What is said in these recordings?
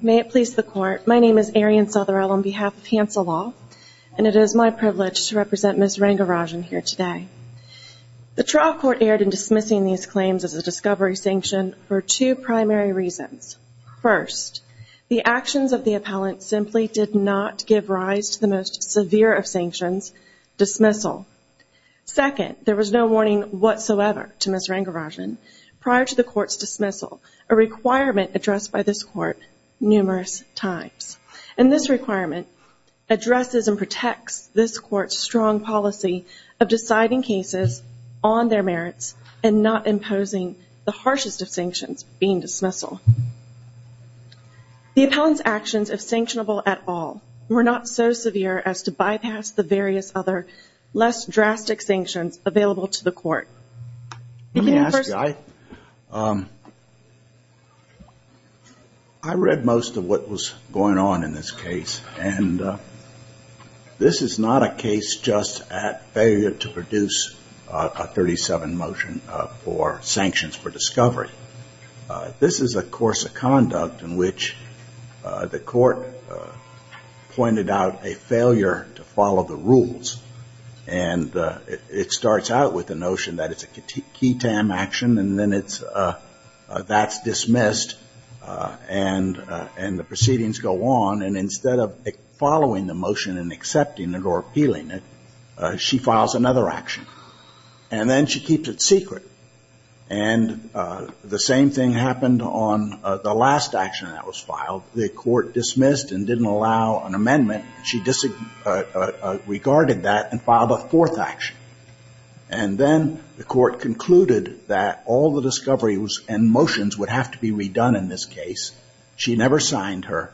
May it please the court, my name is Arian Sotherell on behalf of Hansel Law and it is my privilege to represent Ms. Rangarajan here today. The trial court erred in dismissing these claims as a discovery sanction for two primary reasons. First, the actions of the appellant simply did not give rise to the most severe of sanctions, dismissal. Second, there was no warning whatsoever to Ms. Rangarajan prior to the court's dismissal, a requirement addressed by this court numerous times. And this requirement addresses and protects this court's strong policy of deciding cases on their merits and not imposing the harshest of sanctions being dismissal. The appellant's actions, if sanctionable at all, were not so severe as to bypass the various other less drastic sanctions available to the court. Let me ask, I read most of what was going on in this case and this is not a case just at failure to produce a 37 motion for sanctions for discovery. This is a course of conduct in which the court pointed out a failure to follow the rules. And it starts out with the notion that it's a key tam action and then it's, that's dismissed and the proceedings go on. And instead of following the motion and accepting it or appealing it, she files another action. And then she keeps it secret. And the same thing happened on the last action that was filed. The court dismissed and didn't allow an amendment. She disregarded that and filed a fourth action. And then the court concluded that all the discoveries and motions would have to be redone in this case. She never signed her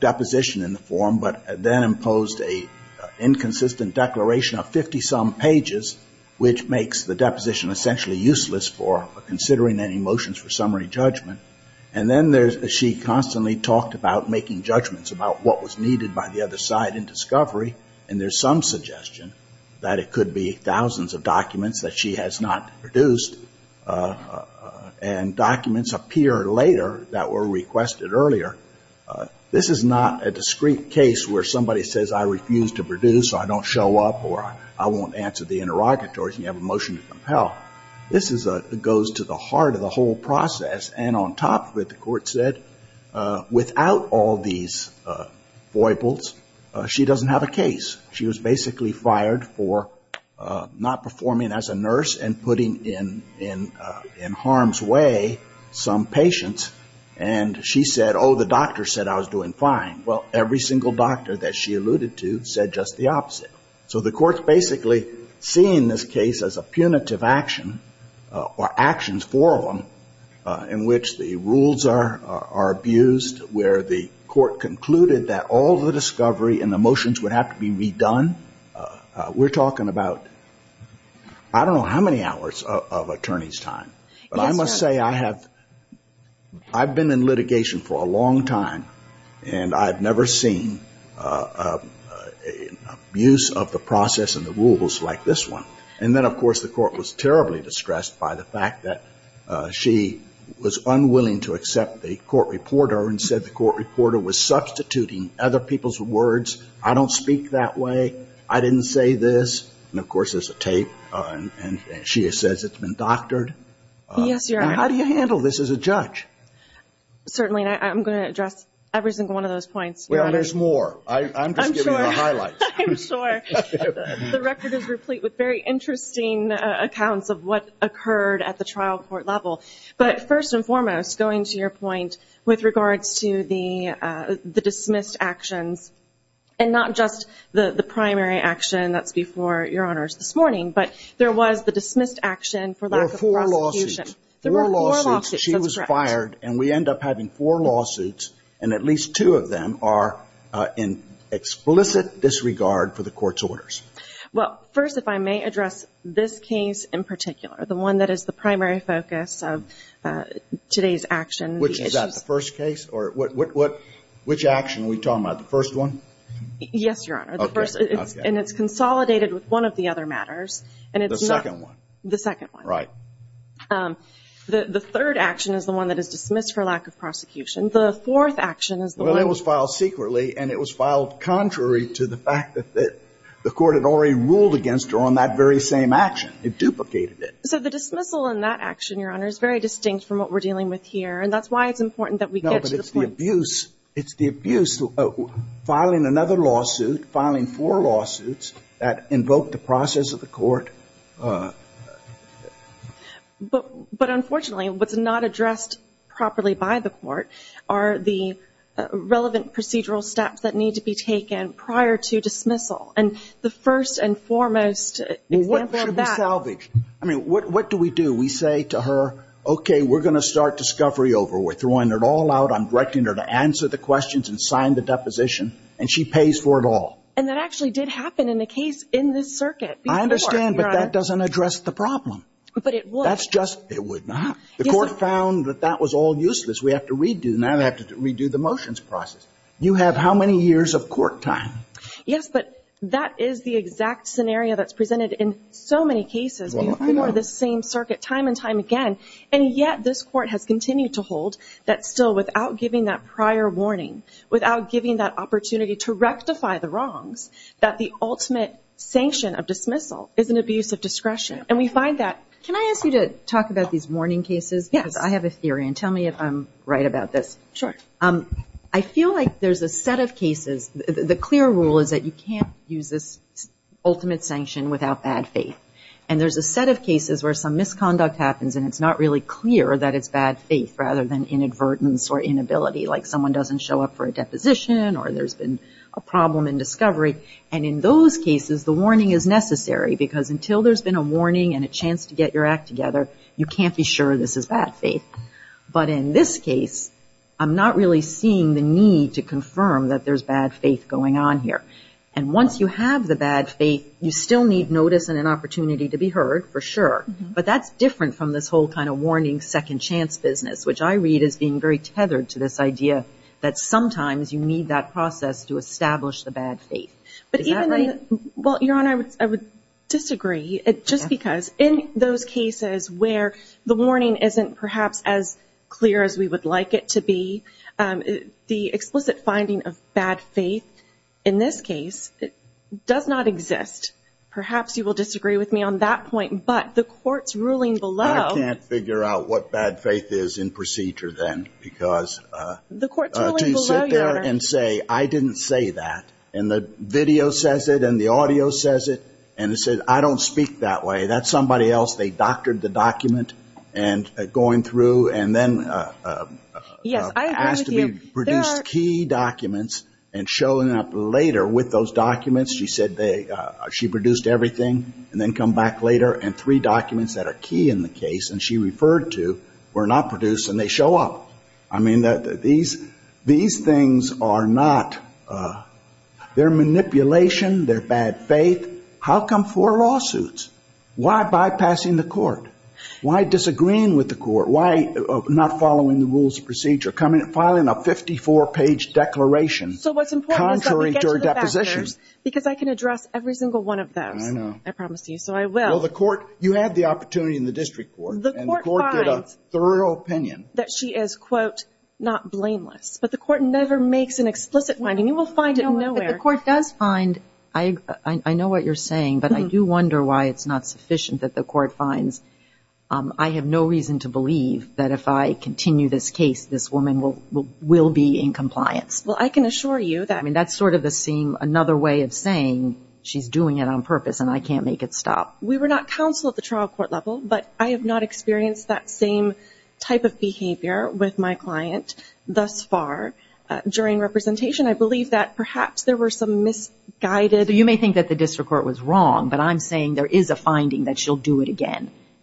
deposition in the form but then imposed an inconsistent declaration of 50-some pages, which makes the deposition essentially useless for considering any motions for summary judgment. And then she constantly talked about making judgments about what was needed by the other side in discovery. And there's some suggestion that it could be thousands of documents that she has not produced. And documents appear later that were requested earlier. This is not a discrete case where somebody says I refuse to produce or I don't show up or I won't answer the interrogatories and you have a motion to compel. This is a, goes to the heart of the whole process. And on top of it, the court said, without all these foibles, she doesn't have a case. She was basically fired for not performing as a nurse and putting in harm's way some patients. And she said, oh, the doctor said I was doing fine. Well, every single doctor that she alluded to said just the opposite. So the court's basically seeing this case as a punitive action or actions, four of them, in which the rules are abused, where the court concluded that all the discovery and the motions would have to be redone. We're talking about I don't know how many hours of attorney's time. But I must say I have, I've been in litigation for a long time, and I've never seen an abuse of authority. I've never seen an abuse of the process and the rules like this one. And then, of course, the court was terribly distressed by the fact that she was unwilling to accept the court reporter and said the court reporter was substituting other people's words. I don't speak that way. I didn't say this. And, of course, there's a tape, and she says it's been doctored. And how do you handle this as a judge? Certainly, and I'm going to address every single one of those points. Well, there's more. I'm just giving you the highlights. I'm sure. The record is replete with very interesting accounts of what occurred at the trial court level. But first and foremost, going to your point with regards to the dismissed actions, and not just the primary action that's before your honors this morning, but there was the dismissed action for lack of prosecution. There were four lawsuits. She was fired, and we end up having four lawsuits, and at least two of them are in explicit disregard for the court's orders. Well, first, if I may address this case in particular, the one that is the primary focus of today's action. Which is that, the first case? Or which action are we talking about, the first one? Yes, Your Honor. And it's consolidated with one of the other matters. The second one. The second one. Right. The third action is the one that is dismissed for lack of prosecution. The fourth action is the one... Well, it was filed secretly, and it was filed contrary to the fact that the court had already ruled against her on that very same action. It duplicated it. So the dismissal in that action, Your Honor, is very distinct from what we're dealing with here, and that's why it's important that we get to the point... It's the abuse of filing another lawsuit, filing four lawsuits that invoke the process of the court... But unfortunately, what's not addressed properly by the court are the relevant procedural steps that need to be taken prior to dismissal. And the first and foremost example of that... What should be salvaged? I mean, what do we do? We say to her, okay, we're going to start discovery over. We're throwing it all out. I'm directing her to answer the questions and sign the deposition, and she pays for it all. And that actually did happen in the case in this circuit before, Your Honor. I understand, but that doesn't address the problem. But it would. The court found that that was all useless. We have to redo the motions process. You have how many years of court time? Yes, but that is the exact scenario that's presented in so many cases before this same circuit time and time again. And yet, this court has continued to hold that still without giving that prior warning, without giving that opportunity to rectify the wrongs, that the ultimate sanction of dismissal is an abuse of discretion. And we find that... Can I ask you to talk about these warning cases? Yes. Because I have a theory, and tell me if I'm right about this. Sure. I feel like there's a set of cases... The clear rule is that you can't use this ultimate sanction without bad faith. And there's a set of cases where some misconduct happens, and it's not really clear that it's bad faith, rather than inadvertence or inability, like someone doesn't show up for a deposition, or there's been a problem in discovery. And in those cases, the warning is necessary, because until there's been a warning and a chance to get your act together, you can't be sure this is bad faith. But in this case, I'm not really seeing the need to confirm that there's bad faith going on here. And once you have the bad faith, you still need notice and an opportunity to be heard, for sure. But that's different from this whole kind of warning, second chance business, which I read as being very tethered to this idea that sometimes you need that process to establish the bad faith. Is that right? Well, Your Honor, I would disagree. Just because in those cases where the warning isn't perhaps as clear as we would like it to be, the explicit finding of bad faith in this case does not exist. Perhaps you will disagree with me on that point, but the court's ruling below... I can't figure out what bad faith is in procedure then, because... The court's ruling below, Your Honor... To sit there and say, I didn't say that, and the video says it, and the audio says it, and it says, I don't speak that way, that's somebody else, they doctored the document, and going through, and then... Three documents, she produced everything, and then come back later, and three documents that are key in the case, and she referred to, were not produced, and they show up. These things are not... They're manipulation, they're bad faith. How come four lawsuits? Why bypassing the court? Why disagreeing with the court? Why not following the rules of procedure? Filing a 54-page declaration, contrary to her depositions. So what's important is that we get to the factors, because I can address every single one of those. I know. I promise you, so I will. You had the opportunity in the district court, and the court did a thorough opinion... That she is, quote, not blameless. But the court never makes an explicit finding. You will find it nowhere. I know what you're saying, but I do wonder why it's not sufficient that the court finds, I have no reason to believe that if I continue this case, this woman will be in compliance. Well, I can assure you that... I mean, that's sort of another way of saying, she's doing it on purpose, and I can't make it stop. We were not counsel at the trial court level, but I have not experienced that same type of behavior with my client thus far during representation. I believe that perhaps there were some misguided...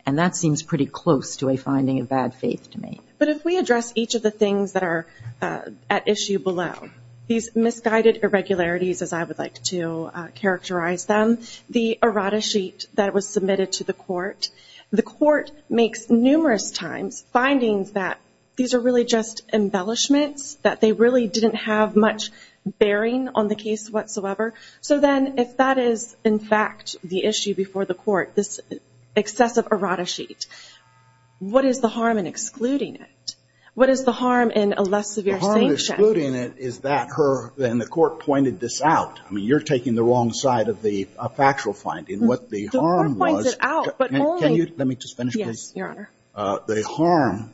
And that seems pretty close to a finding of bad faith to me. But if we address each of the things that are at issue below, these misguided irregularities, as I would like to characterize them, the errata sheet that was submitted to the court, the court makes numerous times findings that these are really just embellishments, that they really didn't have much bearing on the case whatsoever. So then, if that is, in fact, the issue before the court, this excessive errata sheet, what is the harm in excluding it? What is the harm in a less severe sanction? The harm in excluding it is that her... And the court pointed this out. I mean, you're taking the wrong side of the factual finding. The court points it out, but only... The harm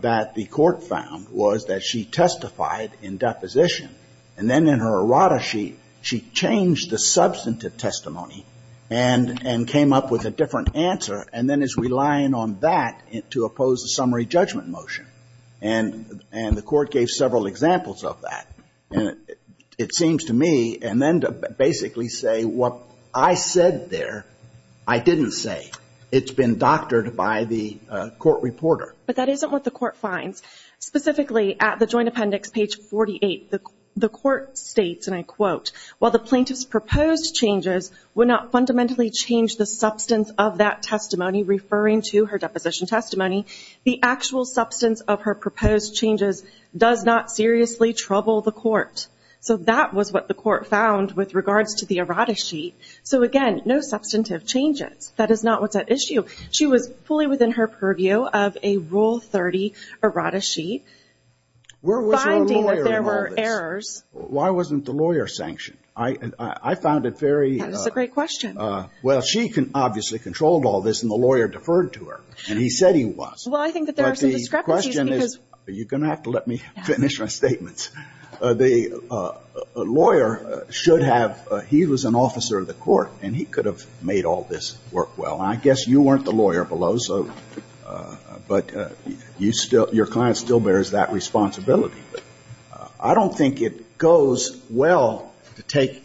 that the court found was that she testified in deposition, and then in her errata sheet, she changed the substantive testimony and came up with a different answer, and then is relying on that to oppose the summary judgment motion. And the court gave several examples of that. It seems to me, and then to basically say, what I said there, I didn't say. It's been doctored by the court reporter. But that isn't what the court finds. Specifically, at the joint appendix, page 48, the court states, and I quote, while the plaintiff's proposed changes would not fundamentally change the substance of that testimony, referring to her deposition testimony, the actual substance of her proposed changes does not seriously trouble the court. So that was what the court found with regards to the errata sheet. So again, no substantive changes. That is not what's at issue. She was fully within her purview of a Rule 30 errata sheet, finding that there were errors. Why wasn't the lawyer sanctioned? I found it very That's a great question. Well, she obviously controlled all this, and the lawyer deferred to her, and he said he was. Well, I think that there are some discrepancies. You're going to have to let me finish my statements. The lawyer should have, he was an officer of the court, and he could have made all this work well. I guess you weren't the lawyer below, but your client still bears that responsibility. I don't think it goes well to take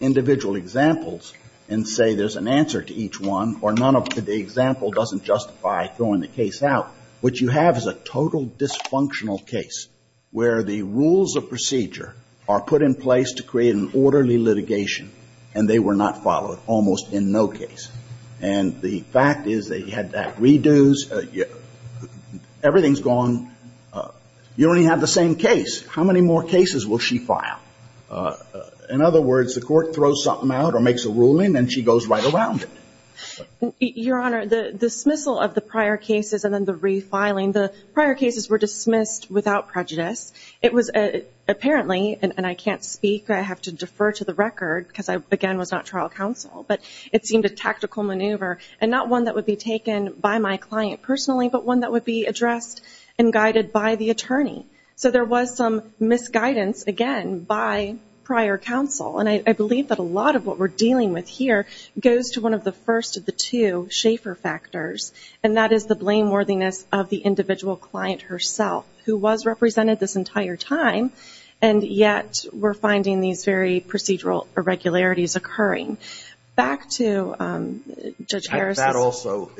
individual examples and say there's an answer to each one, or none of the example doesn't justify throwing the case out. What you have is a total dysfunctional case, where the rules of procedure are put in place to create an orderly litigation, and they were not followed, almost in no case. And the fact is that you had redos, everything's gone, you only have the same case. How many more cases will she file? In other words, the court throws something out or makes a ruling, and she goes right around it. Your Honor, the dismissal of the prior cases and then the refiling, the prior cases were dismissed without prejudice. It was apparently, and I can't speak, I have to defer to the record, because I, again, was not trial counsel, but it seemed a tactical maneuver, and not one that would be taken by my client personally, but one that would be addressed and guided by the attorney. So there was some misguidance, again, by prior counsel, and I believe that a lot of what we're dealing with here goes to one of the first of the two Schaefer factors, and that is the blameworthiness of the individual client herself, who was represented this entire time, and yet we're finding these very procedural irregularities occurring. Back to Judge Harris. That also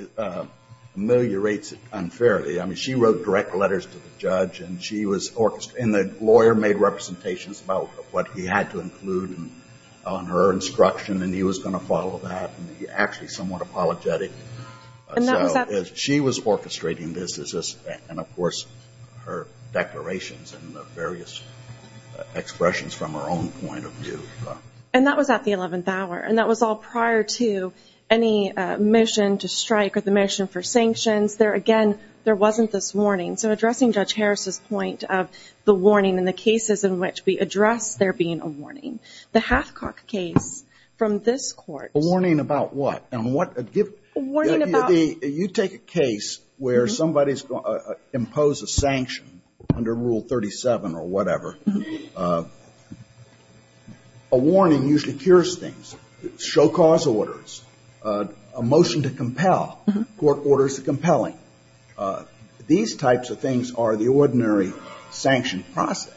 ameliorates it unfairly. I mean, she wrote direct letters to the judge, and the lawyer made representations about what he had to include on her instruction, and he was going to follow that, and he was actually somewhat apologetic. She was orchestrating this, and of course her declarations and the various expressions from her own point of view. And that was at the 11th hour, and that was all prior to any motion to strike or the motion for sanctions. There, again, there wasn't this warning. So addressing Judge Harris' point of the warning and the cases in which we address there being a warning. The Hathcock case, from this court... A warning about what? A warning about... You take a case where somebody is going to impose a sanction under Rule 37 or whatever, a warning usually secures things, show cause orders, a motion to compel, court orders compelling. These types of things are the ordinary sanction process.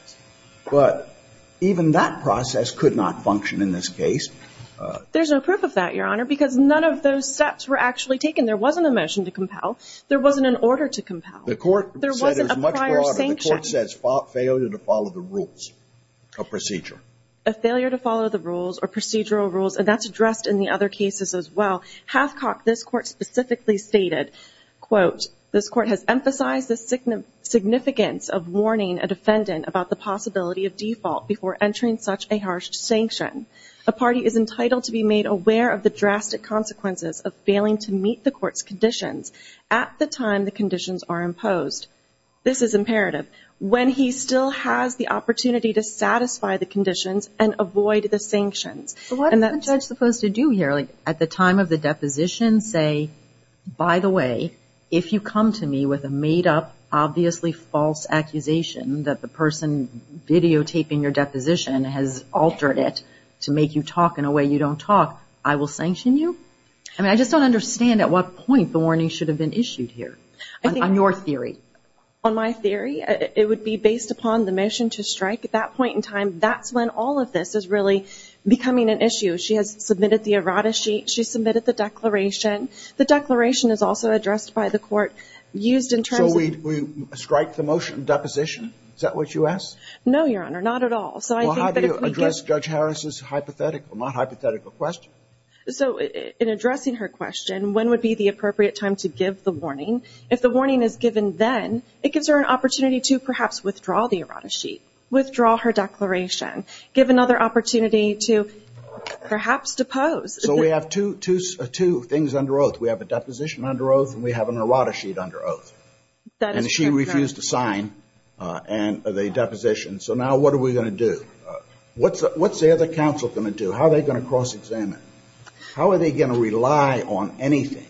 But even that process could not function in this case. There's no proof of that, Your Honor, because none of those steps were actually taken. There wasn't a motion to compel. There wasn't an order to compel. There wasn't a prior sanction. The court says failure to follow the rules of procedure. A failure to follow the rules or procedural rules, and that's addressed in the other cases as well. Hathcock, this court, specifically stated, quote, this court has emphasized the significance of warning a defendant about the possibility of default before entering such a harsh sanction. A party is entitled to be made aware of the drastic consequences of failing to meet the court's conditions at the time the conditions are imposed. This is imperative. When he still has the opportunity to satisfy the conditions and avoid the sanctions. But what is the judge supposed to do here? At the time of the deposition, say, by the way, if you come to me with a made-up, obviously false accusation that the person videotaping your deposition has altered it to make you talk in a way you don't talk, I will sanction you? I just don't understand at what point the warning should have been issued here, on your theory. On my theory, it would be based upon the motion to strike. At that point in time, that's when all of this is really becoming an issue. She has submitted the errata sheet. She's submitted the declaration. The declaration is also addressed by the court, used in terms of... So we strike the motion of deposition? Is that what you ask? No, Your Honor, not at all. Well, how do you address Judge Harris's hypothetical, not hypothetical question? So, in addressing her question, when would be the appropriate time to give the warning? If the warning is given then, it gives her an opportunity to perhaps withdraw the errata sheet, withdraw her declaration, give another opportunity to perhaps depose. So we have two things under oath. We have a deposition under oath and we have an errata sheet under oath. That is correct, Your Honor. And she refused to sign the deposition. So now what are we going to do? What's the other counsel going to do? How are they going to cross-examine? How are they going to rely on anything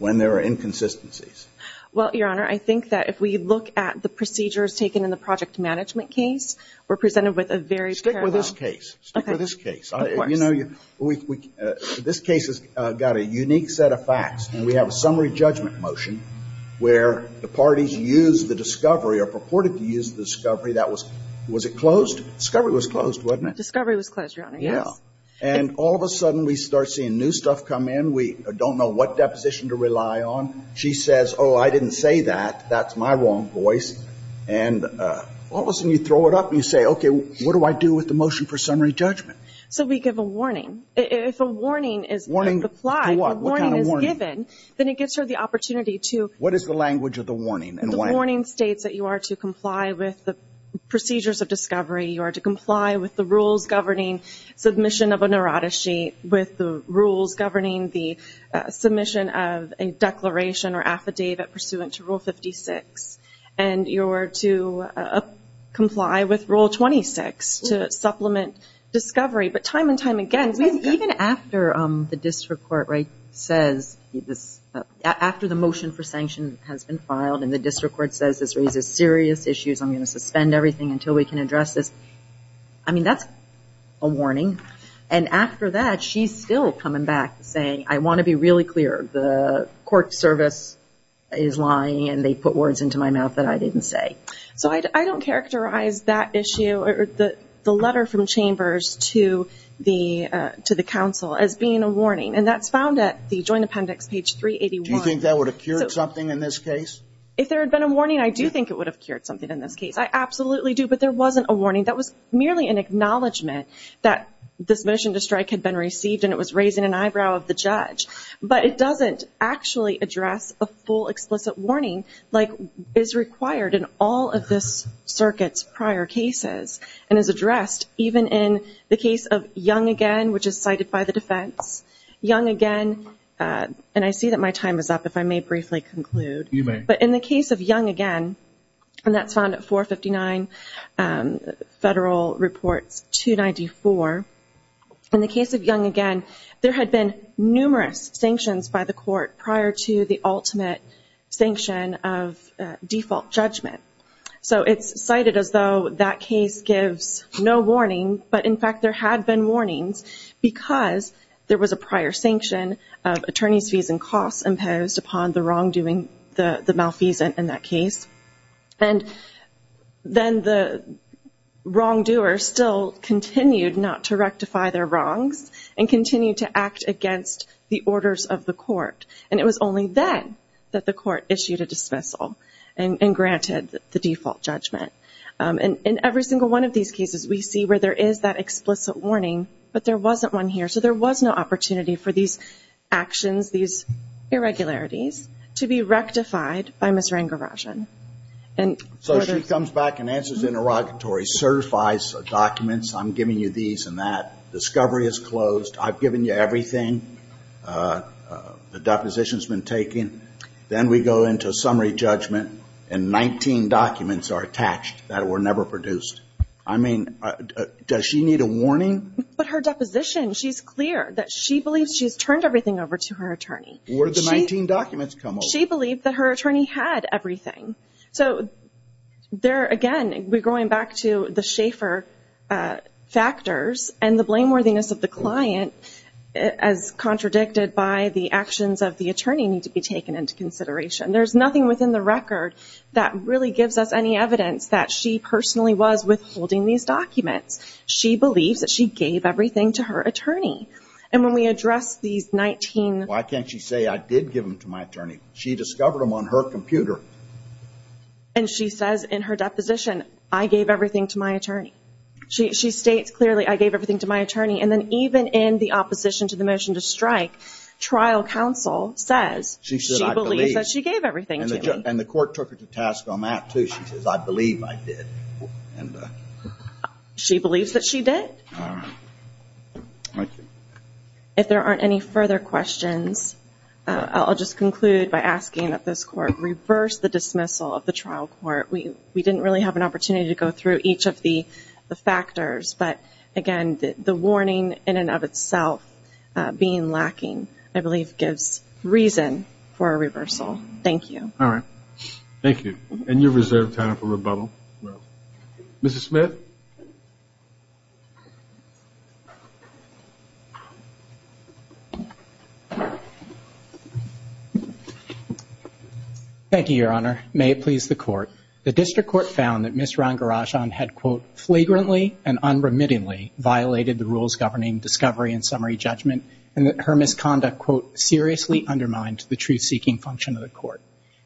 when there are inconsistencies? Well, Your Honor, I think that if we look at the procedures taken in the project management case, we're presented with a very parallel... Stick with this case. Stick with this case. Of course. This case has got a unique set of facts and we have a summary judgment motion where the parties used the discovery or purported to use the discovery that was... Was it closed? Discovery was closed, wasn't it? Discovery was closed, Your Honor, yes. And all of a sudden we start seeing new deposition to rely on. She says, oh, I didn't say that. That's my wrong voice. And all of a sudden you throw it up and you say, okay, what do I do with the motion for summary judgment? So we give a warning. If a warning is applied, a warning is given, then it gives her the opportunity to... What is the language of the warning? The warning states that you are to comply with the procedures of discovery. You are to comply with the rules governing submission of an errata sheet, with the rules governing the submission of a declaration or affidavit pursuant to Rule 56. And you're to comply with Rule 26 to supplement discovery. But time and time again... Even after the district court says... After the motion for sanction has been filed and the district court says this raises serious issues, I'm going to suspend everything until we can address this, I mean, that's a warning. And after that, she's still coming back saying, I want to be really clear. The court service is lying and they put words into my mouth that I didn't say. So I don't characterize that issue or the letter from Chambers to the council as being a warning. And that's found at the Joint Appendix, page 381. Do you think that would have cured something in this case? If there had been a warning, I do think it would have cured something in this case. I absolutely do. But there wasn't a warning. That was merely an acknowledgement that this motion to strike had been received and it was raising an eyebrow of the judge. But it doesn't actually address a full explicit warning like is required in all of this circuit's prior cases. And is addressed even in the case of Young Again, which is cited by the defense. Young Again... And I see that my time is up, if I may briefly conclude. You may. But in the case of Young Again, and that's found at 459 Federal Reports 294. In the case of Young Again, there had been numerous sanctions by the court prior to the ultimate sanction of default judgment. So it's cited as though that case gives no warning, but in fact there had been warnings because there was a prior sanction of attorney's fees and costs imposed upon the wrongdoing, the malfeasance in that case. And then the wrongdoer still continued not to rectify their wrongs and continued to act against the orders of the court. And it was only then that the court issued a dismissal and granted the default judgment. In every single one of these cases, we see where there is that explicit warning, but there wasn't one here. So there was no opportunity for these actions, these irregularities, to be aggravated. So she comes back and answers interrogatory, certifies documents, I'm giving you these and that, discovery is closed, I've given you everything, the deposition has been taken, then we go into summary judgment, and 19 documents are attached that were never produced. I mean, does she need a warning? But her deposition, she's clear that she believes she's turned everything over to her attorney. Where did the 19 documents come from? She believed that her attorney had everything. So again, we're going back to the Schaeffer factors and the blameworthiness of the client as contradicted by the actions of the attorney need to be taken into consideration. There's nothing within the record that really gives us any evidence that she personally was withholding these documents. She believes that she gave everything to her attorney. And when we address these 19 documents, why can't she say, I did give them to my attorney? She discovered them on her computer. And she says in her deposition, I gave everything to my attorney. She states clearly, I gave everything to my attorney. And then even in the opposition to the motion to strike, trial counsel says she believes that she gave everything to me. And the court took her to task on that too. She says, I believe I did. She believes that she did? If there aren't any further questions, I'll just conclude by asking that this court reverse the dismissal of the trial court. We didn't really have an opportunity to go through each of the factors. But again, the warning in and of itself being lacking, I believe gives reason for a reversal. Thank you. Thank you. And you're reserved time for rebuttal. Mrs. Smith? Thank you, Your Honor. May it please the court. The district court found that Ms. Rangarajan had quote, flagrantly and unremittingly violated the rules governing discovery and summary judgment, and that her misconduct quote, seriously undermined the truth-seeking function of the court.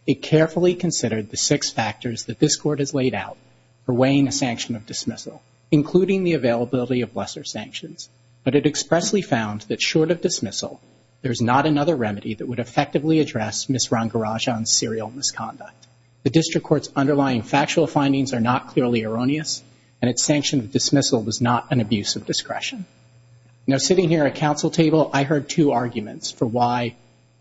It carefully considered the six factors that this court has laid out for weighing a sanction of dismissal, including the availability of lesser sanctions. But it expressly found that short of dismissal, there's not another remedy that would effectively address Ms. Rangarajan's serial misconduct. The district court's underlying factual findings are not clearly erroneous, and its sanction of dismissal was not an abuse of discretion. Now sitting here at counsel table, I heard two arguments for why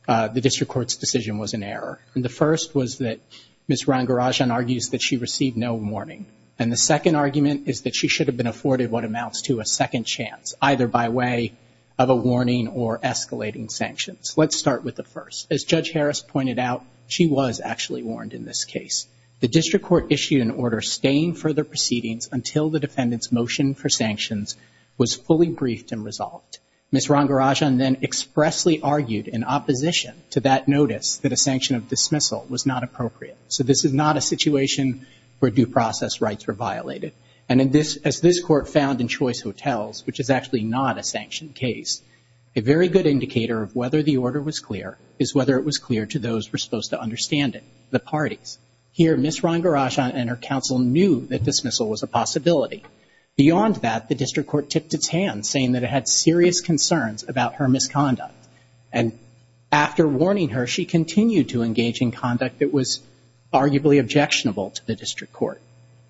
the district court's decision was in error. And the first was that Ms. Rangarajan argues that she received no warning. And the second argument is that she should have been afforded what amounts to a second chance, either by way of a warning or escalating sanctions. Let's start with the first. As Judge Harris pointed out, she was actually warned in this case. The district court issued an order staying further proceedings until the defendant's motion for sanctions was fully briefed and resolved. Ms. Rangarajan then expressly argued in opposition to that notice that a sanction of dismissal was not appropriate. So this is not a situation where due process rights were violated. And as this court found in Choice Hotels, which is actually not a sanctioned case, a very good indicator of whether the order was clear is whether it was clear to those who were supposed to understand it, the parties. Here, Ms. Rangarajan and her counsel knew that dismissal was a possibility. Beyond that, the district court tipped its hands, saying that it had serious concerns about her misconduct. And after warning her, she continued to engage in conduct that was arguably objectionable to the district court.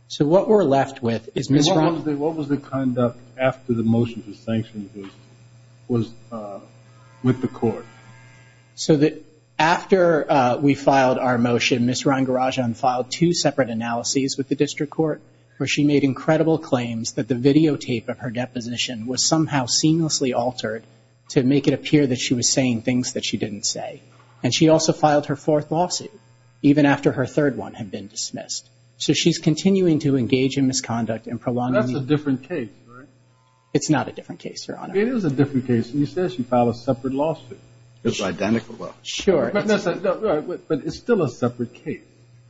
So what we're left with is Ms. Rangarajan. And what was the conduct after the motion for sanctions was with the court? So that after we filed our motion, Ms. Rangarajan filed two separate analyses with the district court, where she made incredible claims that the videotape of her deposition was somehow seamlessly altered to make it appear that she was saying things that she didn't say. And she also filed her fourth lawsuit, even after her third one had been dismissed. So she's continuing to engage in misconduct and prolonging the... That's a different case, right? It's not a different case, Your Honor. It is a different case. You said she filed a separate lawsuit. It's identical. Sure. But it's still a separate case,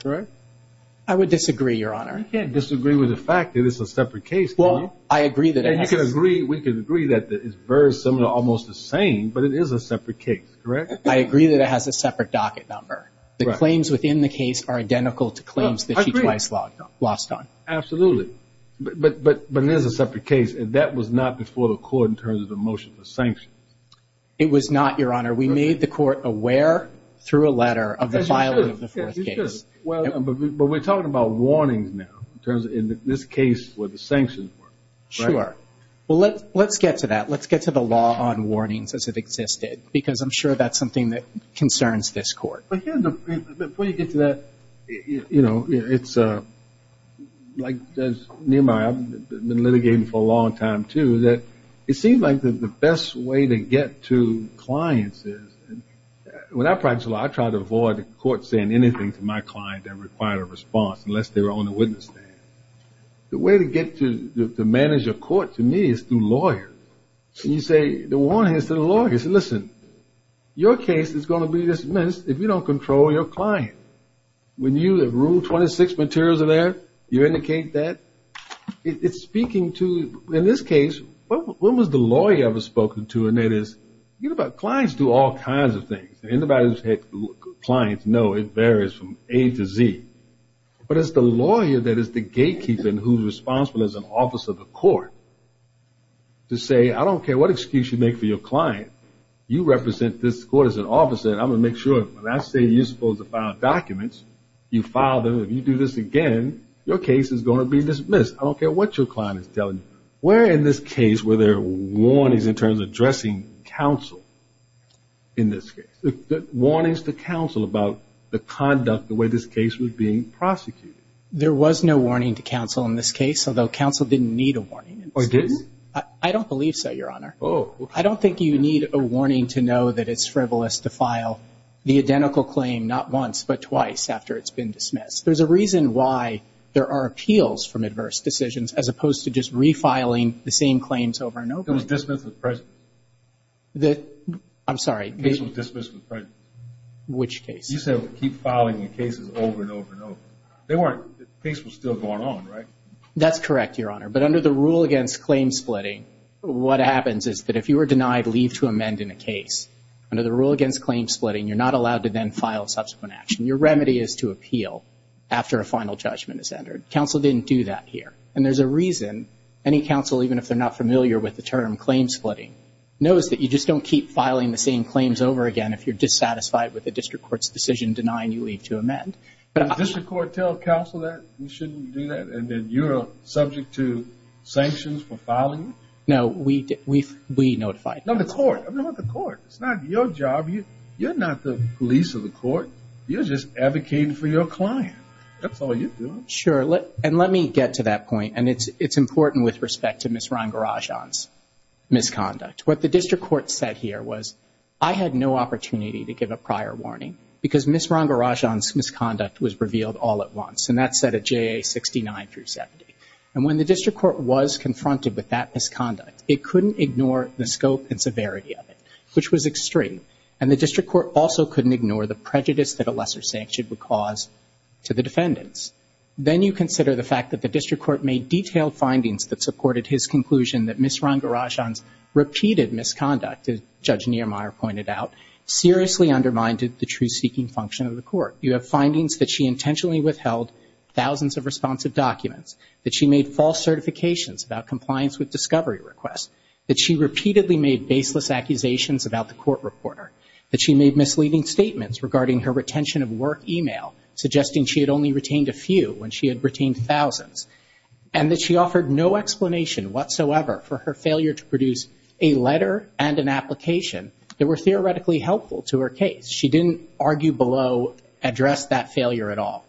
correct? I would disagree, Your Honor. You can't disagree with the fact that it's a separate case, can you? Well, I agree that it has... We can agree that it's very similar, almost the same, but it is a separate case, correct? I agree that it has a separate docket number. The claims within the case are identical to claims that she twice lost on. Absolutely. But it is a separate case, and that was not before the court in terms of the motion for sanctions. It was not, Your Honor. We made the court aware, through a letter, of the filing of the fourth case. But we're talking about warnings now, in terms of in this case where the sanctions were, right? Sure. Well, let's get to that. Let's get to the law on warnings as it existed, because I'm sure that's something that concerns this Court. But here's the... Before you get to that, you know, it's... Like Nehemiah, I've been litigating for a long time, too, that it seems like the best way to get to clients is... When I practice law, I try to avoid the court saying anything to my client that required a response, unless they were on the witness stand. The way to get to manage a court, to me, is through lawyers. And you say, the warning is to the lawyers. Listen, your case is going to be dismissed if you don't control your client. When you, in Room 26, materials are there, you indicate that. It's speaking to... In this case, when was the lawyer ever spoken to? And it is... You know, clients do all kinds of things. Anybody who's had clients know it varies from A to Z. But it's the lawyer that is the gatekeeper and who's responsible as an officer of the court to say, I don't care what excuse you make for your client. You represent this court as an officer, and I'm going to make sure when I say you're supposed to file documents, you file them. If you do this again, your case is going to be dismissed. I don't care what your client is telling you. Where in this case were there warnings in terms of addressing counsel in this case? The warnings to counsel about the conduct, the way this case was being prosecuted. There was no warning to counsel in this case, although counsel didn't need a warning. Or didn't? I don't believe so, Your Honor. Oh. I don't think you need a warning to know that it's frivolous to file the identical claim not once, but twice after it's been dismissed. There's a reason why there are appeals from adverse decisions as opposed to just refiling the same claims over and over. It was dismissed with presence. The... I'm sorry. The case was dismissed with presence. Which case? You said keep filing your cases over and over and over. They weren't... the case was still going on, right? That's correct, Your Honor. But under the rule against claim splitting, what happens is that if you were denied leave to amend in a case, under the rule against claim splitting, you're not allowed to then file subsequent action. Your remedy is to appeal after a final judgment is entered. Counsel didn't do that here. And there's a reason any counsel, even if they're not familiar with the term claim splitting, knows that you just don't keep filing the same claims over again if you're dissatisfied with the district court's decision denying you leave to amend. Did the district court tell counsel that you shouldn't do that and that you're subject to sanctions for filing? No. We notified them. No, the court. I'm talking about the court. It's not your job. You're not the police or the court. You're just advocating for your client. That's all you do. Sure. And let me get to that point. And it's important with respect to Ms. Rangarajan's misconduct. What the district court said here was, I had no opportunity to give a prior warning because Ms. Rangarajan's misconduct was revealed all at once. And that's said at JA 69 through 70. And when the district court was confronted with that misconduct, it couldn't ignore the scope and severity of it, which was extreme. And the district court also couldn't ignore the prejudice that a lesser sanction would cause to the defendants. Then you consider the fact that the district court made detailed findings that supported his conclusion that Ms. Rangarajan's repeated misconduct, as Judge Niemeyer pointed out, seriously undermined the truth-seeking function of the court. You have findings that she intentionally withheld thousands of responsive documents, that she made false certifications about compliance with discovery requests, that she repeatedly made baseless accusations about the court reporter, that she made misleading statements regarding her retention of work email, suggesting she had only retained a few when she had retained thousands, and that she was responsible, however, for her failure to produce a letter and an application that were theoretically helpful to her case. She didn't argue below address that failure at all.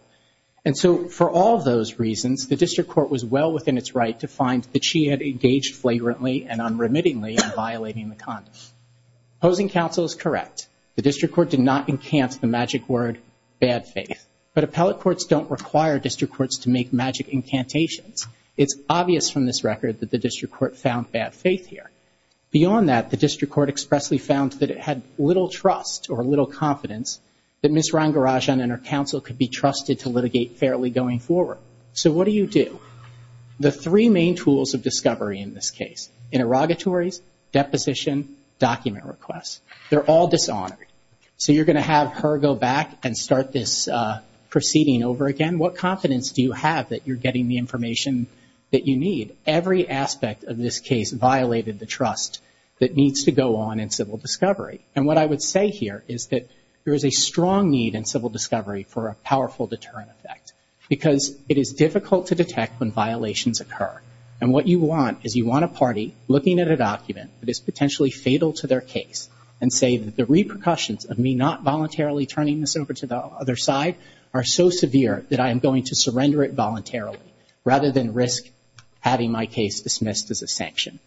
And so for all of those reasons, the district court was well within its right to find that she had engaged flagrantly and unremittingly in violating the condom. Opposing counsel is correct. The district court did not enchant the magic word, bad faith. But appellate courts don't require district courts to make magic incantations. It's obvious from this record that the district court found bad faith here. Beyond that, the district court expressly found that it had little trust or little confidence that Ms. Rangarajan and her counsel could be trusted to litigate fairly going forward. So what do you do? The three main tools of discovery in this case, interrogatories, deposition, document requests, they're all dishonored. So you're going to have her go back and start this proceeding over again? What confidence do you have that you're getting the information that you need? Every aspect of this case violated the trust that needs to go on in civil discovery. And what I would say here is that there is a strong need in civil discovery for a powerful deterrent effect. Because it is difficult to detect when violations occur. And what you want is you want a party looking at a document that is potentially fatal to their case and say that the repercussions of me not voluntarily turning this over to the other side are so severe that I am going to surrender it voluntarily rather than risk having my case dismissed as a sanction.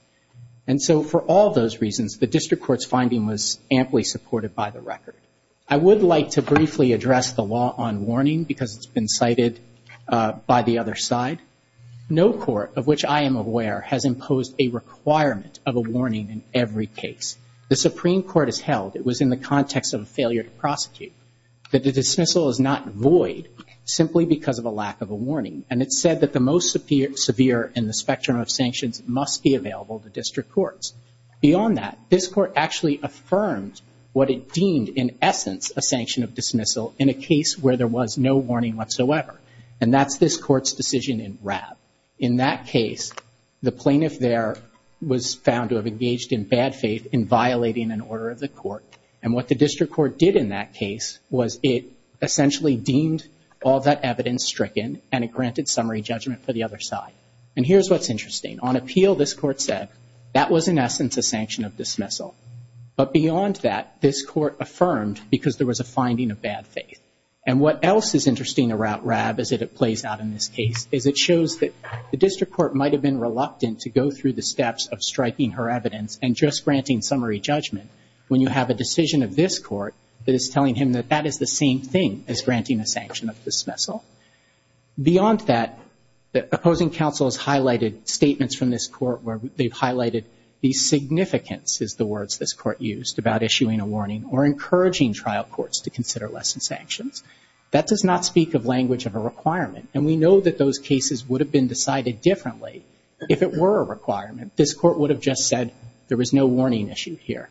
And so for all those reasons, the district court's finding was amply supported by the record. I would like to briefly address the law on warning because it's been cited by the other side. No court of which I am aware has imposed a requirement of a warning in every case. The Supreme Court has held it was in the context of a failure to prosecute that the dismissal is not void simply because of a lack of a warning. And it said that the most severe in the spectrum of sanctions must be available to district courts. Beyond that, this court actually affirmed what it deemed in essence a sanction of dismissal in a case where there was no warning whatsoever. And that's this court's decision in RAB. In that case, the plaintiff there was found to have engaged in bad faith in violating an order of the court. And what the district court did in that case was it essentially deemed all that evidence stricken and it granted summary judgment for the other side. And here's what's interesting. On appeal, this court said that was in essence a sanction of dismissal. But beyond that, this court affirmed because there was a finding of bad faith. And what else is interesting about RAB as it plays out in this case is it shows that the district court might have been reluctant to go through the steps of striking her evidence and just making a decision of this court that is telling him that that is the same thing as granting a sanction of dismissal. Beyond that, the opposing counsel has highlighted statements from this court where they've highlighted the significance is the words this court used about issuing a warning or encouraging trial courts to consider less than sanctions. That does not speak of language of a requirement. And we know that those cases would have been decided differently if it were a requirement. This court would have just said there was no warning issue here.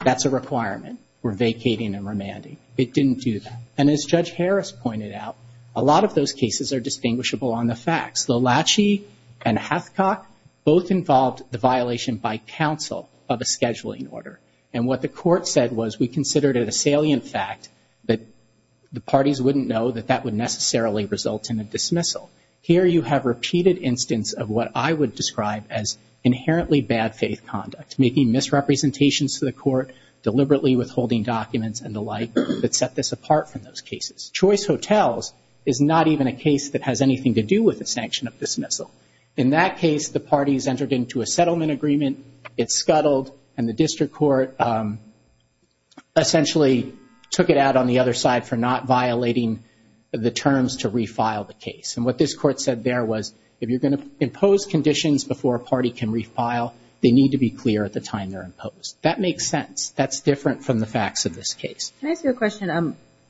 That's a requirement. We're vacating and remanding. It didn't do that. And as Judge Harris pointed out, a lot of those cases are distinguishable on the facts. The Lachey and Hathcock both involved the violation by counsel of a scheduling order. And what the court said was we considered it a salient fact that the parties wouldn't know that that would necessarily result in a dismissal. Here you have repeated instance of what I would describe as inherently bad faith conduct, making misrepresentations to the court, deliberately withholding documents and the like that set this apart from those cases. Choice Hotels is not even a case that has anything to do with a sanction of dismissal. In that case, the parties entered into a settlement agreement. It scuttled and the district court essentially took it out on the other side for not violating the terms to refile the case. And what this court said there was if you're going to impose conditions before a party can refile, they need to be clear at the time they're imposed. That makes sense. That's different from the facts of this case. Can I ask you a question?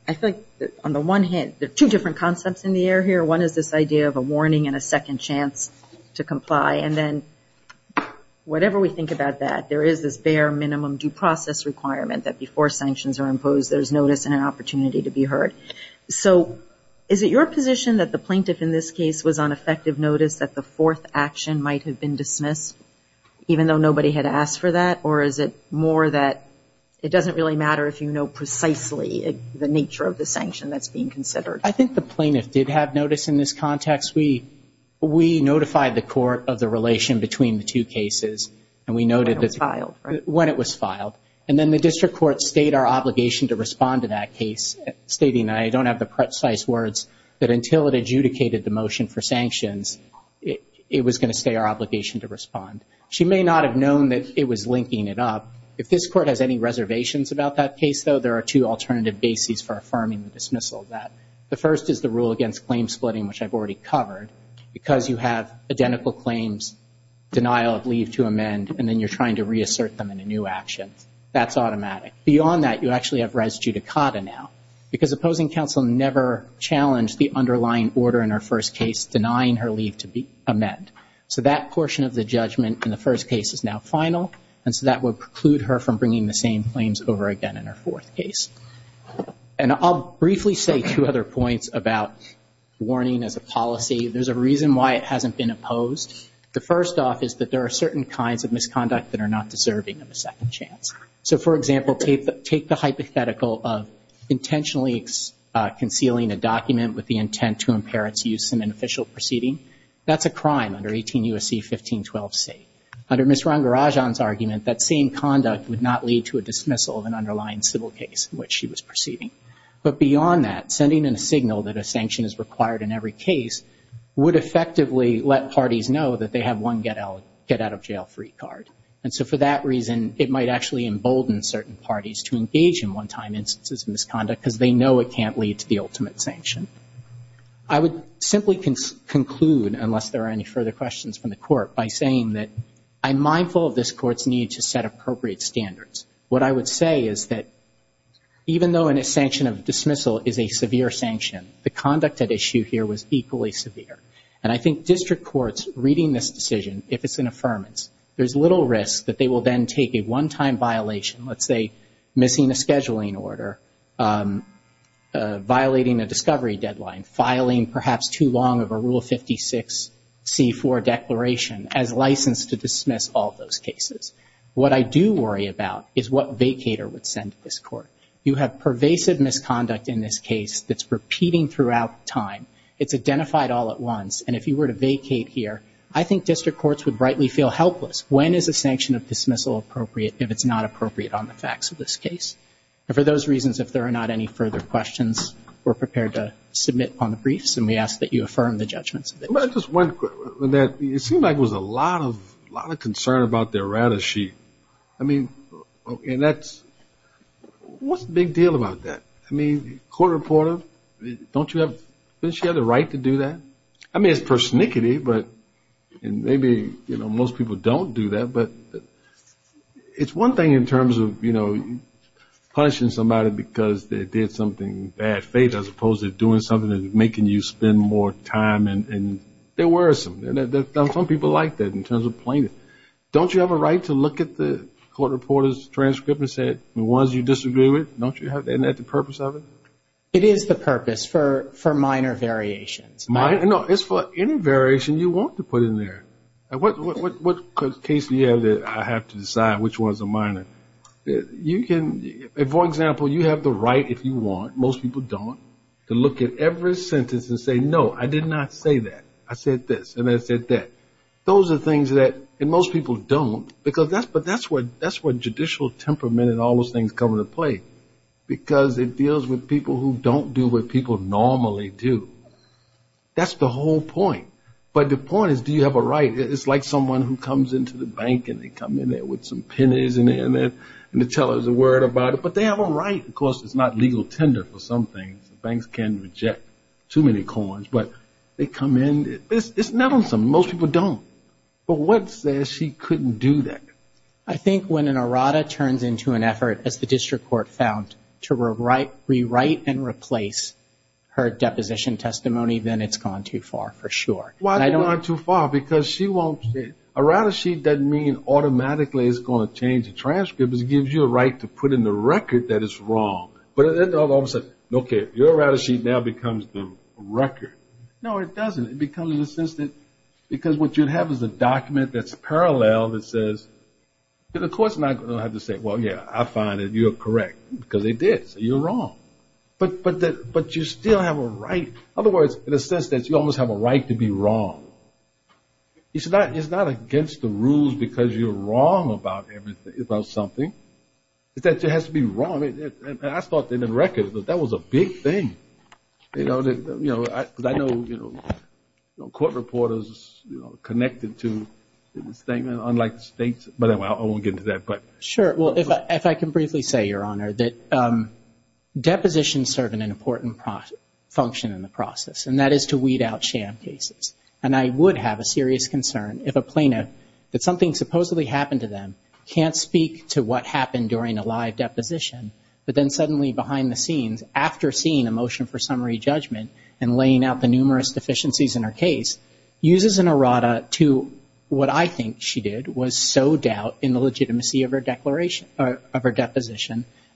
I feel like on the one hand, there are two different concepts in the air here. One is this idea of a warning and a second chance to comply. And then whatever we think about that, there is this bare minimum due process requirement that before sanctions are imposed, there's notice and an opportunity to be heard. So is it your position that the plaintiff in this case was on effective notice that the fourth action might have been dismissed even though nobody had asked for that? Or is it more that it doesn't really matter if you know precisely the nature of the sanction that's being considered? I think the plaintiff did have notice in this context. We notified the court of the relation between the two cases and we noted when it was filed. And then the district court stated our obligation to respond to that case, stating, and I don't have the precise words, that until it adjudicated the motion for sanctions, it was going to stay our obligation to respond. She may not have known that it was linking it up. If this court has any reservations about that case, though, there are two alternative bases for affirming the dismissal of that. The first is the rule against claim splitting, which I've already covered. Because you have identical claims, denial of leave to amend, and then you're trying to reassert them in a new action. That's automatic. Beyond that, you actually have res judicata now. Because the opposing counsel never challenged the underlying order in her first case denying her leave to amend. So that portion of the judgment in the first case is now final. And so that would preclude her from bringing the same claims over again in her fourth case. And I'll briefly say two other points about warning as a policy. There's a reason why it hasn't been opposed. The first off is that there are certain kinds of misconduct that are not deserving of a second chance. So, for example, take the hypothetical of intentionally concealing a document with the intent to impair its use in an official proceeding. That's a crime under 18 U.S.C. 1512c. Under Ms. Rangarajan's argument, that same conduct would not lead to a dismissal of an underlying civil case in which she was proceeding. But beyond that, sending in a signal that a sanction is required in every case would effectively let parties know that they have one get-out-of-jail-free card. And so for that reason, it might actually embolden certain parties to engage in one-time instances of misconduct because they know it can't lead to the ultimate sanction. I would simply conclude unless there are any further questions from the Court, by saying that I'm mindful of this Court's need to set appropriate standards. What I would say is that even though a sanction of dismissal is a severe sanction, the conduct at issue here was equally severe. And I think district courts reading this decision, if it's an affirmance, there's little risk that they will then take a one-time violation, let's say missing a scheduling order, violating a discovery deadline, filing perhaps too long of a Rule 56c.4 declaration as license to dismiss all those cases. What I do worry about is what vacater would send to this Court. You have pervasive misconduct in this case that's repeating throughout time. It's identified all at once. And if you were to vacate here, I think district courts would rightly feel it's dismissal appropriate if it's not appropriate on the facts of this case. And for those reasons, if there are not any further questions, we're prepared to submit on the briefs and we ask that you affirm the judgments. It seemed like there was a lot of concern about the errata sheet. I mean, and that's, what's the big deal about that? I mean, court reporter, don't you have, doesn't she have the right to do that? I mean, it's persnickety, but, and maybe, you know, most people don't do that, but it's one thing in terms of, you know, punishing somebody because they did something in bad faith as opposed to doing something that's making you spend more time and they're worrisome. Some people like that in terms of plaintiff. Don't you have a right to look at the court reporter's transcript and say, the ones you disagree with, don't you have, isn't that the purpose of it? It is the purpose for minor variations. No, it's for any variation you want to put in there. What case do you have that I have to decide which ones are minor? You can, for example, you have the right, if you want, most people don't, to look at every sentence and say, no, I did not say that. I said this and I said that. Those are things that, and most people don't, because that's, but that's where judicial temperament and all those things come into play, because it deals with people who don't do what people normally do. That's the whole point. But the point is, do you have a right? It's like someone who comes into the bank and they come in there with some pennies and they tell us a word about it, but they have a right. Of course, it's not legal tender for some things. Banks can reject too many coins, but they come in, it's not on some, most people don't. But what says she couldn't do that? I think when an errata turns into an effort, as the district court found, to rewrite and replace her deposition testimony, then it's gone too far, for sure. Why gone too far? Because errata sheet doesn't mean automatically it's going to change the transcript. It gives you a right to put in the record that it's wrong. But then all of a sudden, okay, your errata sheet now becomes the record. No, it doesn't. It becomes insensitive, because what you have is a document that's parallel that says, the court's not going to have to say, well, yeah, I find that you're correct, because they did, so you're wrong. But you still have a right. In other words, in a sense that you almost have a right to be wrong. It's not against the rules because you're wrong about something. It just has to be wrong. And I thought in the record that that was a big thing. Because I know court reporters are connected to the statement, unlike the states. But anyway, I won't get into that. Sure. Well, if I can briefly say, Your Honor, that depositions serve an important function in the process, and that is to weed out sham cases. And I would have a serious concern if a plaintiff, that something supposedly happened to them, can't speak to what happened during a live deposition, but then suddenly behind the scenes, after seeing a motion for summary judgment and laying out the numerous deficiencies in her case, uses an errata to what I think she did, was sow doubt in the legitimacy of her deposition,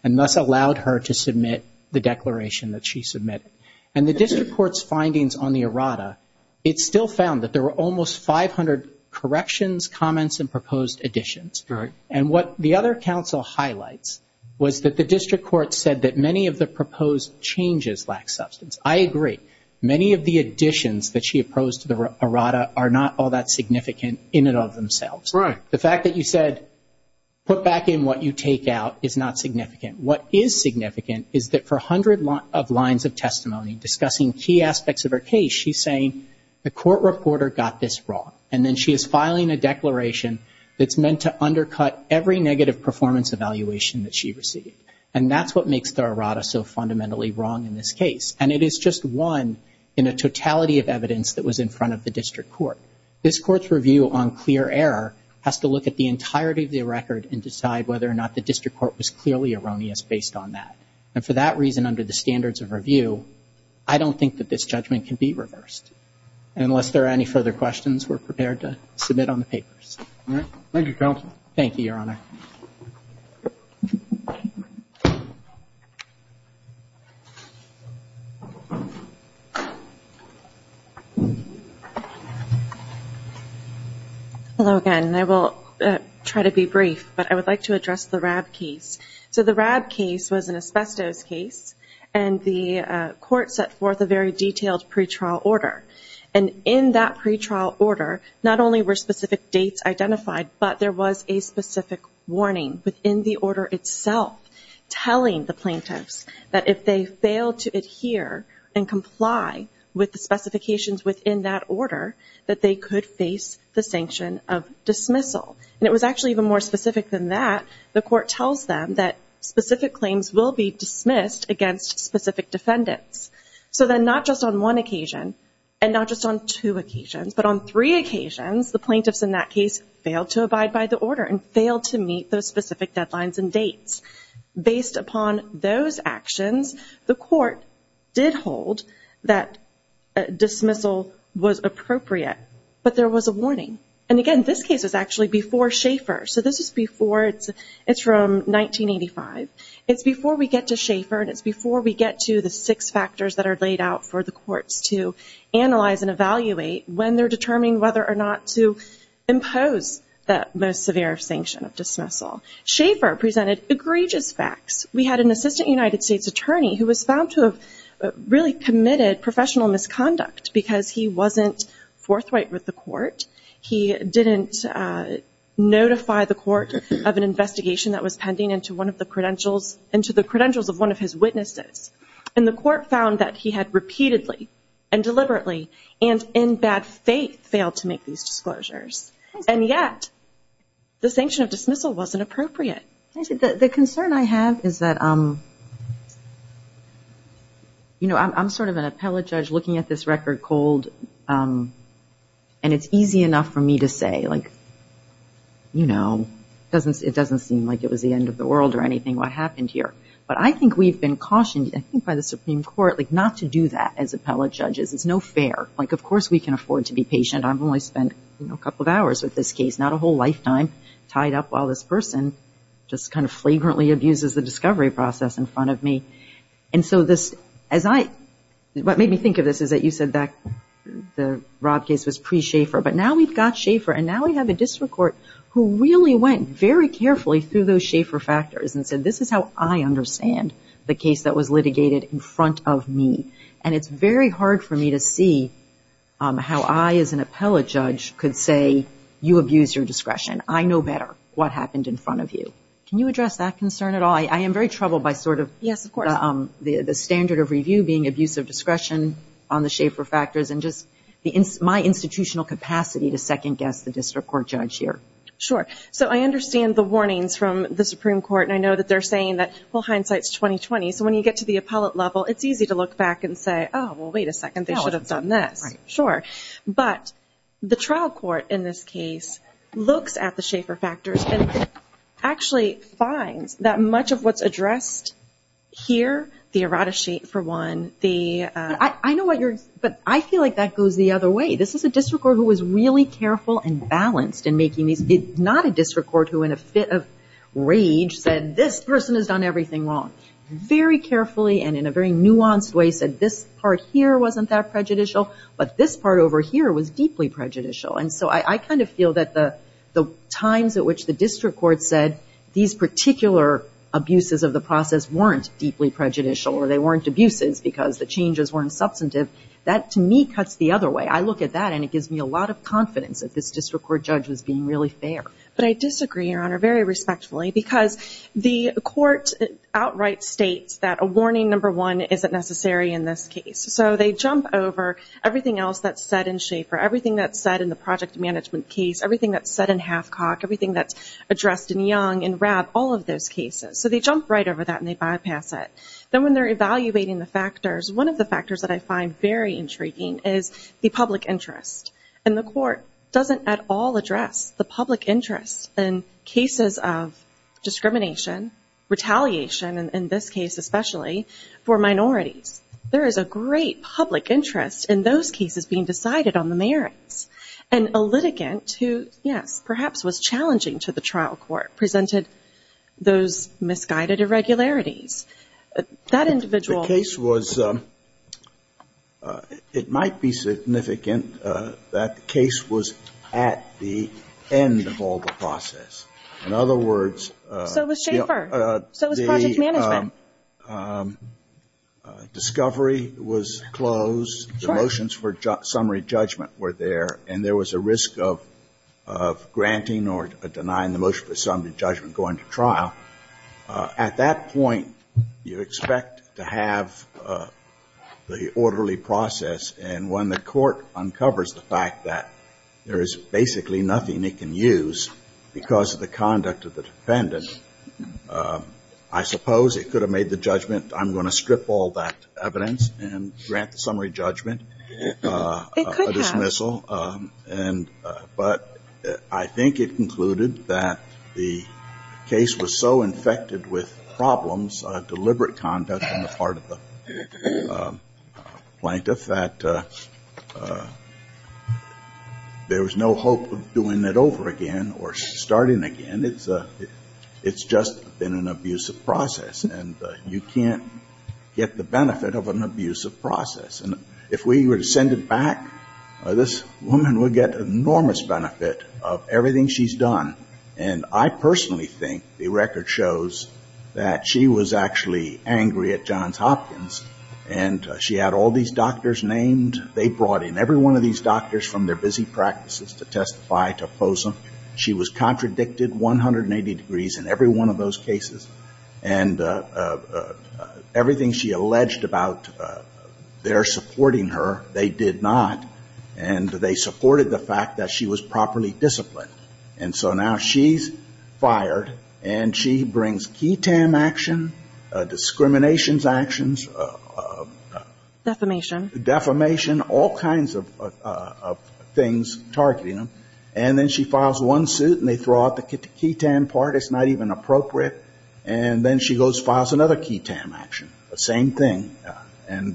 and thus allowed her to submit the declaration that she submitted. And the District Court's findings on the errata, it still found that there were almost 500 corrections, comments, and proposed additions. And what the other counsel highlights was that the District Court said that many of the proposed changes lack substance. I agree. Many of the additions that she submitted were not significant in and of themselves. Right. The fact that you said put back in what you take out is not significant. What is significant is that for 100 lines of testimony, discussing key aspects of her case, she's saying the court reporter got this wrong. And then she is filing a declaration that's meant to undercut every negative performance evaluation that she received. And that's what makes the errata so fundamentally wrong in this case. And it is just one in a totality of evidence that was in front of the District Court. This Court's review on clear error has to look at the entirety of the record and decide whether or not the District Court was clearly erroneous based on that. And for that reason, under the standards of review, I don't think that this judgment can be reversed. And unless there are any further questions, we're prepared to submit on the papers. All right. Thank you, counsel. Thank you, Your Honor. Hello again. And I will try to be brief. But I would like to address the RAB case. So the RAB case was an asbestos case. And the court set forth a very detailed pretrial order. And in that pretrial order, not only were specific dates identified, but there was a specific warning within the order itself telling the plaintiffs that if they failed to adhere and comply with the specifications within that order, that they could face the sanction of dismissal. And it was actually even more specific than that. The court tells them that specific claims will be dismissed against specific defendants. So then not just on one occasion and not just on two occasions, but on three occasions, the plaintiffs in that case failed to abide by the order and failed to meet those specific deadlines and dates. Based upon those actions, the court did hold that dismissal was appropriate. But there was a warning. And again, this case is actually before Schaefer. So this is before. It's from 1985. It's before we get to Schaefer. And it's before we get to the six factors that are laid out for the courts to analyze and evaluate when they're determining whether or not to impose that most severe sanction of dismissal. Schaefer presented egregious facts. We had an assistant United States attorney who was found to have really committed professional misconduct because he wasn't forthright with the court. He didn't notify the court of an investigation that was pending into the credentials of one of his witnesses. And the court found that he had repeatedly and deliberately and in bad faith failed to make these disclosures. And yet the sanction of dismissal wasn't appropriate. The concern I have is that I'm sort of an appellate judge looking at this record cold and it's easy enough for me to say it doesn't seem like it was the end of the world or anything what happened here. But I think we've been cautioned by the Supreme Court not to do that as appellate judges. It's no fair. Of course we can afford to be patient. I've only spent a couple of hours with this case. Not a whole lifetime tied up while this person just kind of flagrantly abuses the discovery process in front of me. And so this what made me think of this is that you said that the Rob case was pre-Schaefer but now we've got Schaefer and now we have a district court who really went very carefully through those Schaefer factors and said this is how I understand the case that was litigated in front of me. And it's very hard for me to see how I as an appellate judge could say you abused your discretion. I know better what happened in front of you. Can you address that concern at all? I am very troubled by sort of the standard of review being abuse of discretion on the Schaefer factors and just my institutional capacity to second guess the district court judge here. Sure. So I understand the warnings from the Supreme Court and I know that they're saying that well hindsight's 20-20 so when you get to the appellate level it's easy to look back and say oh well wait a second they should have done this. Sure. But the trial court in this case looks at the Schaefer factors and actually finds that much of what's addressed here, the errata sheet for one, the I know what you're, but I feel like that goes the other way. This is a district court who was really careful and balanced in making these, not a district court who in a fit of rage said this person has done everything wrong. Very carefully and in a very nuanced way said this part here wasn't that prejudicial but this part over here was deeply prejudicial and so I kind of feel that the times at which the district court said these particular abuses of the process weren't deeply prejudicial or they weren't abuses because the changes weren't substantive, that to me cuts the other way. I look at that and it gives me a lot of confidence that this district court judge was being really fair. But I disagree, Your Honor, very respectfully because the court outright states that a warning number one isn't necessary in this case. So they jump over everything else that's said in Schaefer, everything that's said in the project management case, everything that's said in Halfcock, everything that's addressed in Young, in Rabb, all of those cases. So they jump right over that and they bypass it. Then when they're evaluating the factors, one of the factors that I find very intriguing is the public interest and the court doesn't at all address the public interest in cases of discrimination, retaliation in this case especially for minorities. There is a great public interest in those cases being decided on the merits. And a litigant who yes, perhaps was challenging to the trial court presented those misguided irregularities. That individual The case was, it might be significant that the case was at the end of all the process. In other words, So was Schaefer. So was project management. Discovery was closed. The motions for summary judgment were there. And there was a risk of granting or denying the motion for summary judgment going to trial. At that point, you expect to have the orderly process. And when the court uncovers the fact that there is basically nothing it can use because of the conduct of the defendant, I suppose it could have made the judgment I'm going to strip all that evidence and grant the summary judgment a dismissal. It could have. But I think it concluded that the case was so infected with problems, deliberate conduct on the part of the plaintiff that there was no hope of doing it over again or starting again. It's just been an abusive process. And you can't get the benefit of an abusive process. And if we were to send it back, this woman would get enormous benefit of everything she's done. And I personally think the record shows that she was actually angry at Johns Hopkins and she had all these doctors named. They brought in every one of these doctors from their busy practices to testify to oppose them. She was contradicted 180 degrees in every one of those cases. And everything she alleged about their supporting her, they did not. And they supported the fact that she was properly disciplined. And so now she's fired. And she brings key tam action, discrimination actions. Defamation. Defamation, all kinds of things targeting them. And then she files one suit and they throw out the key tam part. It's not even appropriate. And then she goes and files another key tam action. The same thing. And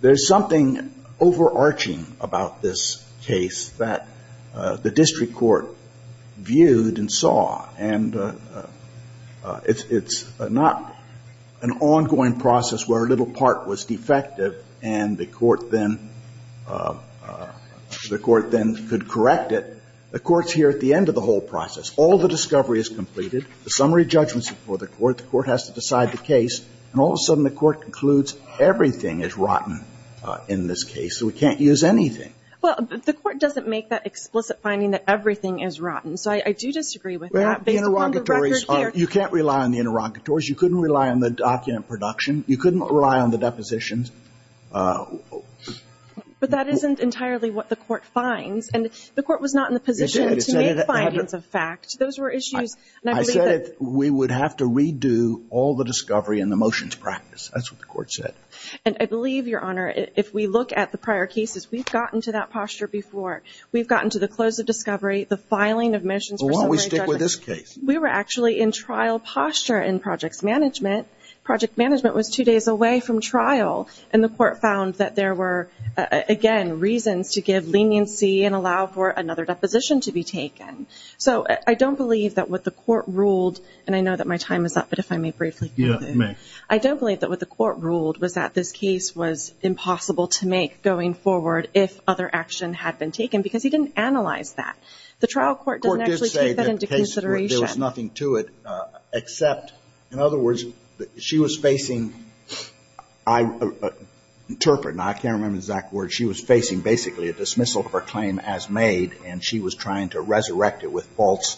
there's something overarching about this case that the district court viewed and saw. And it's not an ongoing process where a little part was defective and the court then could correct it. The court's here at the end of the whole process. All the discovery is completed. The summary judgment's before the court. The court has to decide the case. And all of a sudden the court concludes everything is rotten in this case. So we can't use anything. Well, the court doesn't make that explicit finding that everything is rotten. So I do disagree with that. You can't rely on the interrogatories. You couldn't rely on the document production. You couldn't rely on the depositions. But that isn't entirely what the court finds. And the court was not in the position to make findings of fact. Those were issues. I said we would have to redo all the discovery and the motions practice. That's what the court said. And I believe, Your Honor, if we look at the prior cases we've gotten to that posture before. We've gotten to the close of discovery, the case. We were actually in trial posture in projects management. Project management was two days away from trial. And the court found that there were again, reasons to give leniency and allow for another deposition to be taken. So I don't believe that what the court ruled and I know that my time is up, but if I may briefly conclude. Yeah, you may. I don't believe that what the court ruled was that this case was impossible to make going forward if other action had been taken. Because he didn't analyze that. The trial court didn't actually take that into consideration. The court did say there was nothing to it except, in other words, she was facing I interpret, I can't remember the exact word, she was facing basically a dismissal of her claim as made and she was trying to resurrect it with false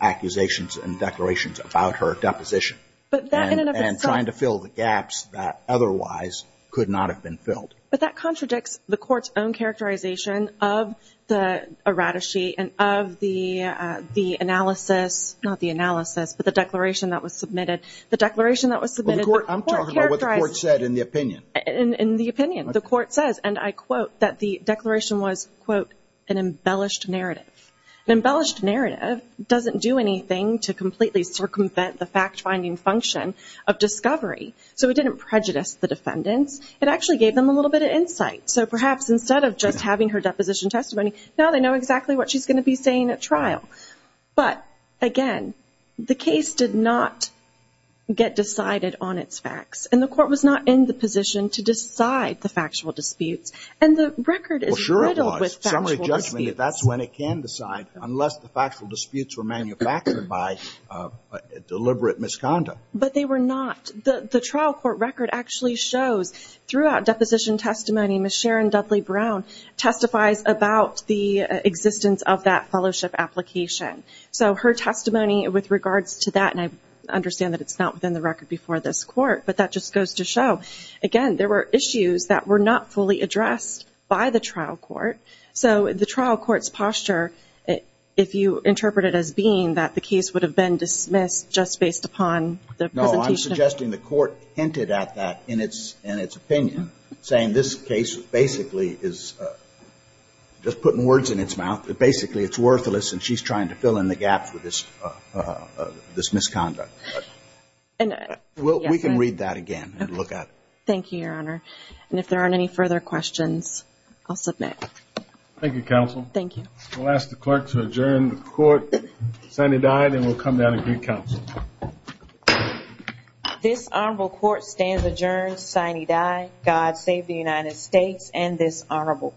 accusations and declarations about her deposition. But that in and of itself. And trying to fill the gaps that otherwise could not have been filled. But that contradicts the court's own characterization of the errata sheet and of the analysis not the analysis, but the declaration that was submitted. The declaration that was submitted I'm talking about what the court said in the opinion. In the opinion, the court says and I quote that the declaration was, quote, an embellished narrative. An embellished narrative doesn't do anything to completely circumvent the fact finding function of discovery. So it didn't prejudice the defendants. It actually gave them a little bit of insight. So perhaps instead of just having her deposition testimony, now they know exactly what she's going to be saying at trial. But, again, the case did not get decided on its facts. And the court was not in the position to decide the factual disputes. And the record is riddled with factual disputes. Summary judgment, that's when it can decide. Unless the factual disputes were manufactured by deliberate misconduct. But they were not. The trial court record actually shows throughout deposition testimony, Ms. Sharon Dudley Brown testifies about the existence of that fellowship application. So her testimony with regards to that, and I understand that it's not within the record before this court, but that just goes to show, again, there were issues that were not fully addressed by the trial court. So the trial court's posture if you interpret it as being that the case would have been dismissed just based upon the presentation. No, I'm suggesting the court hinted at that in its opinion. Saying this case basically is just putting words in its mouth. That basically it's worthless and she's trying to fill in the gaps with this misconduct. We can read that again and look at it. Thank you, Your Honor. And if there aren't any further questions, I'll submit. Thank you, Counsel. Thank you. We'll ask the clerk to adjourn the court. Senator Dyer, then we'll come down and get counsel. This honorable court stands adjourned sine die, God save the United States and this honorable court.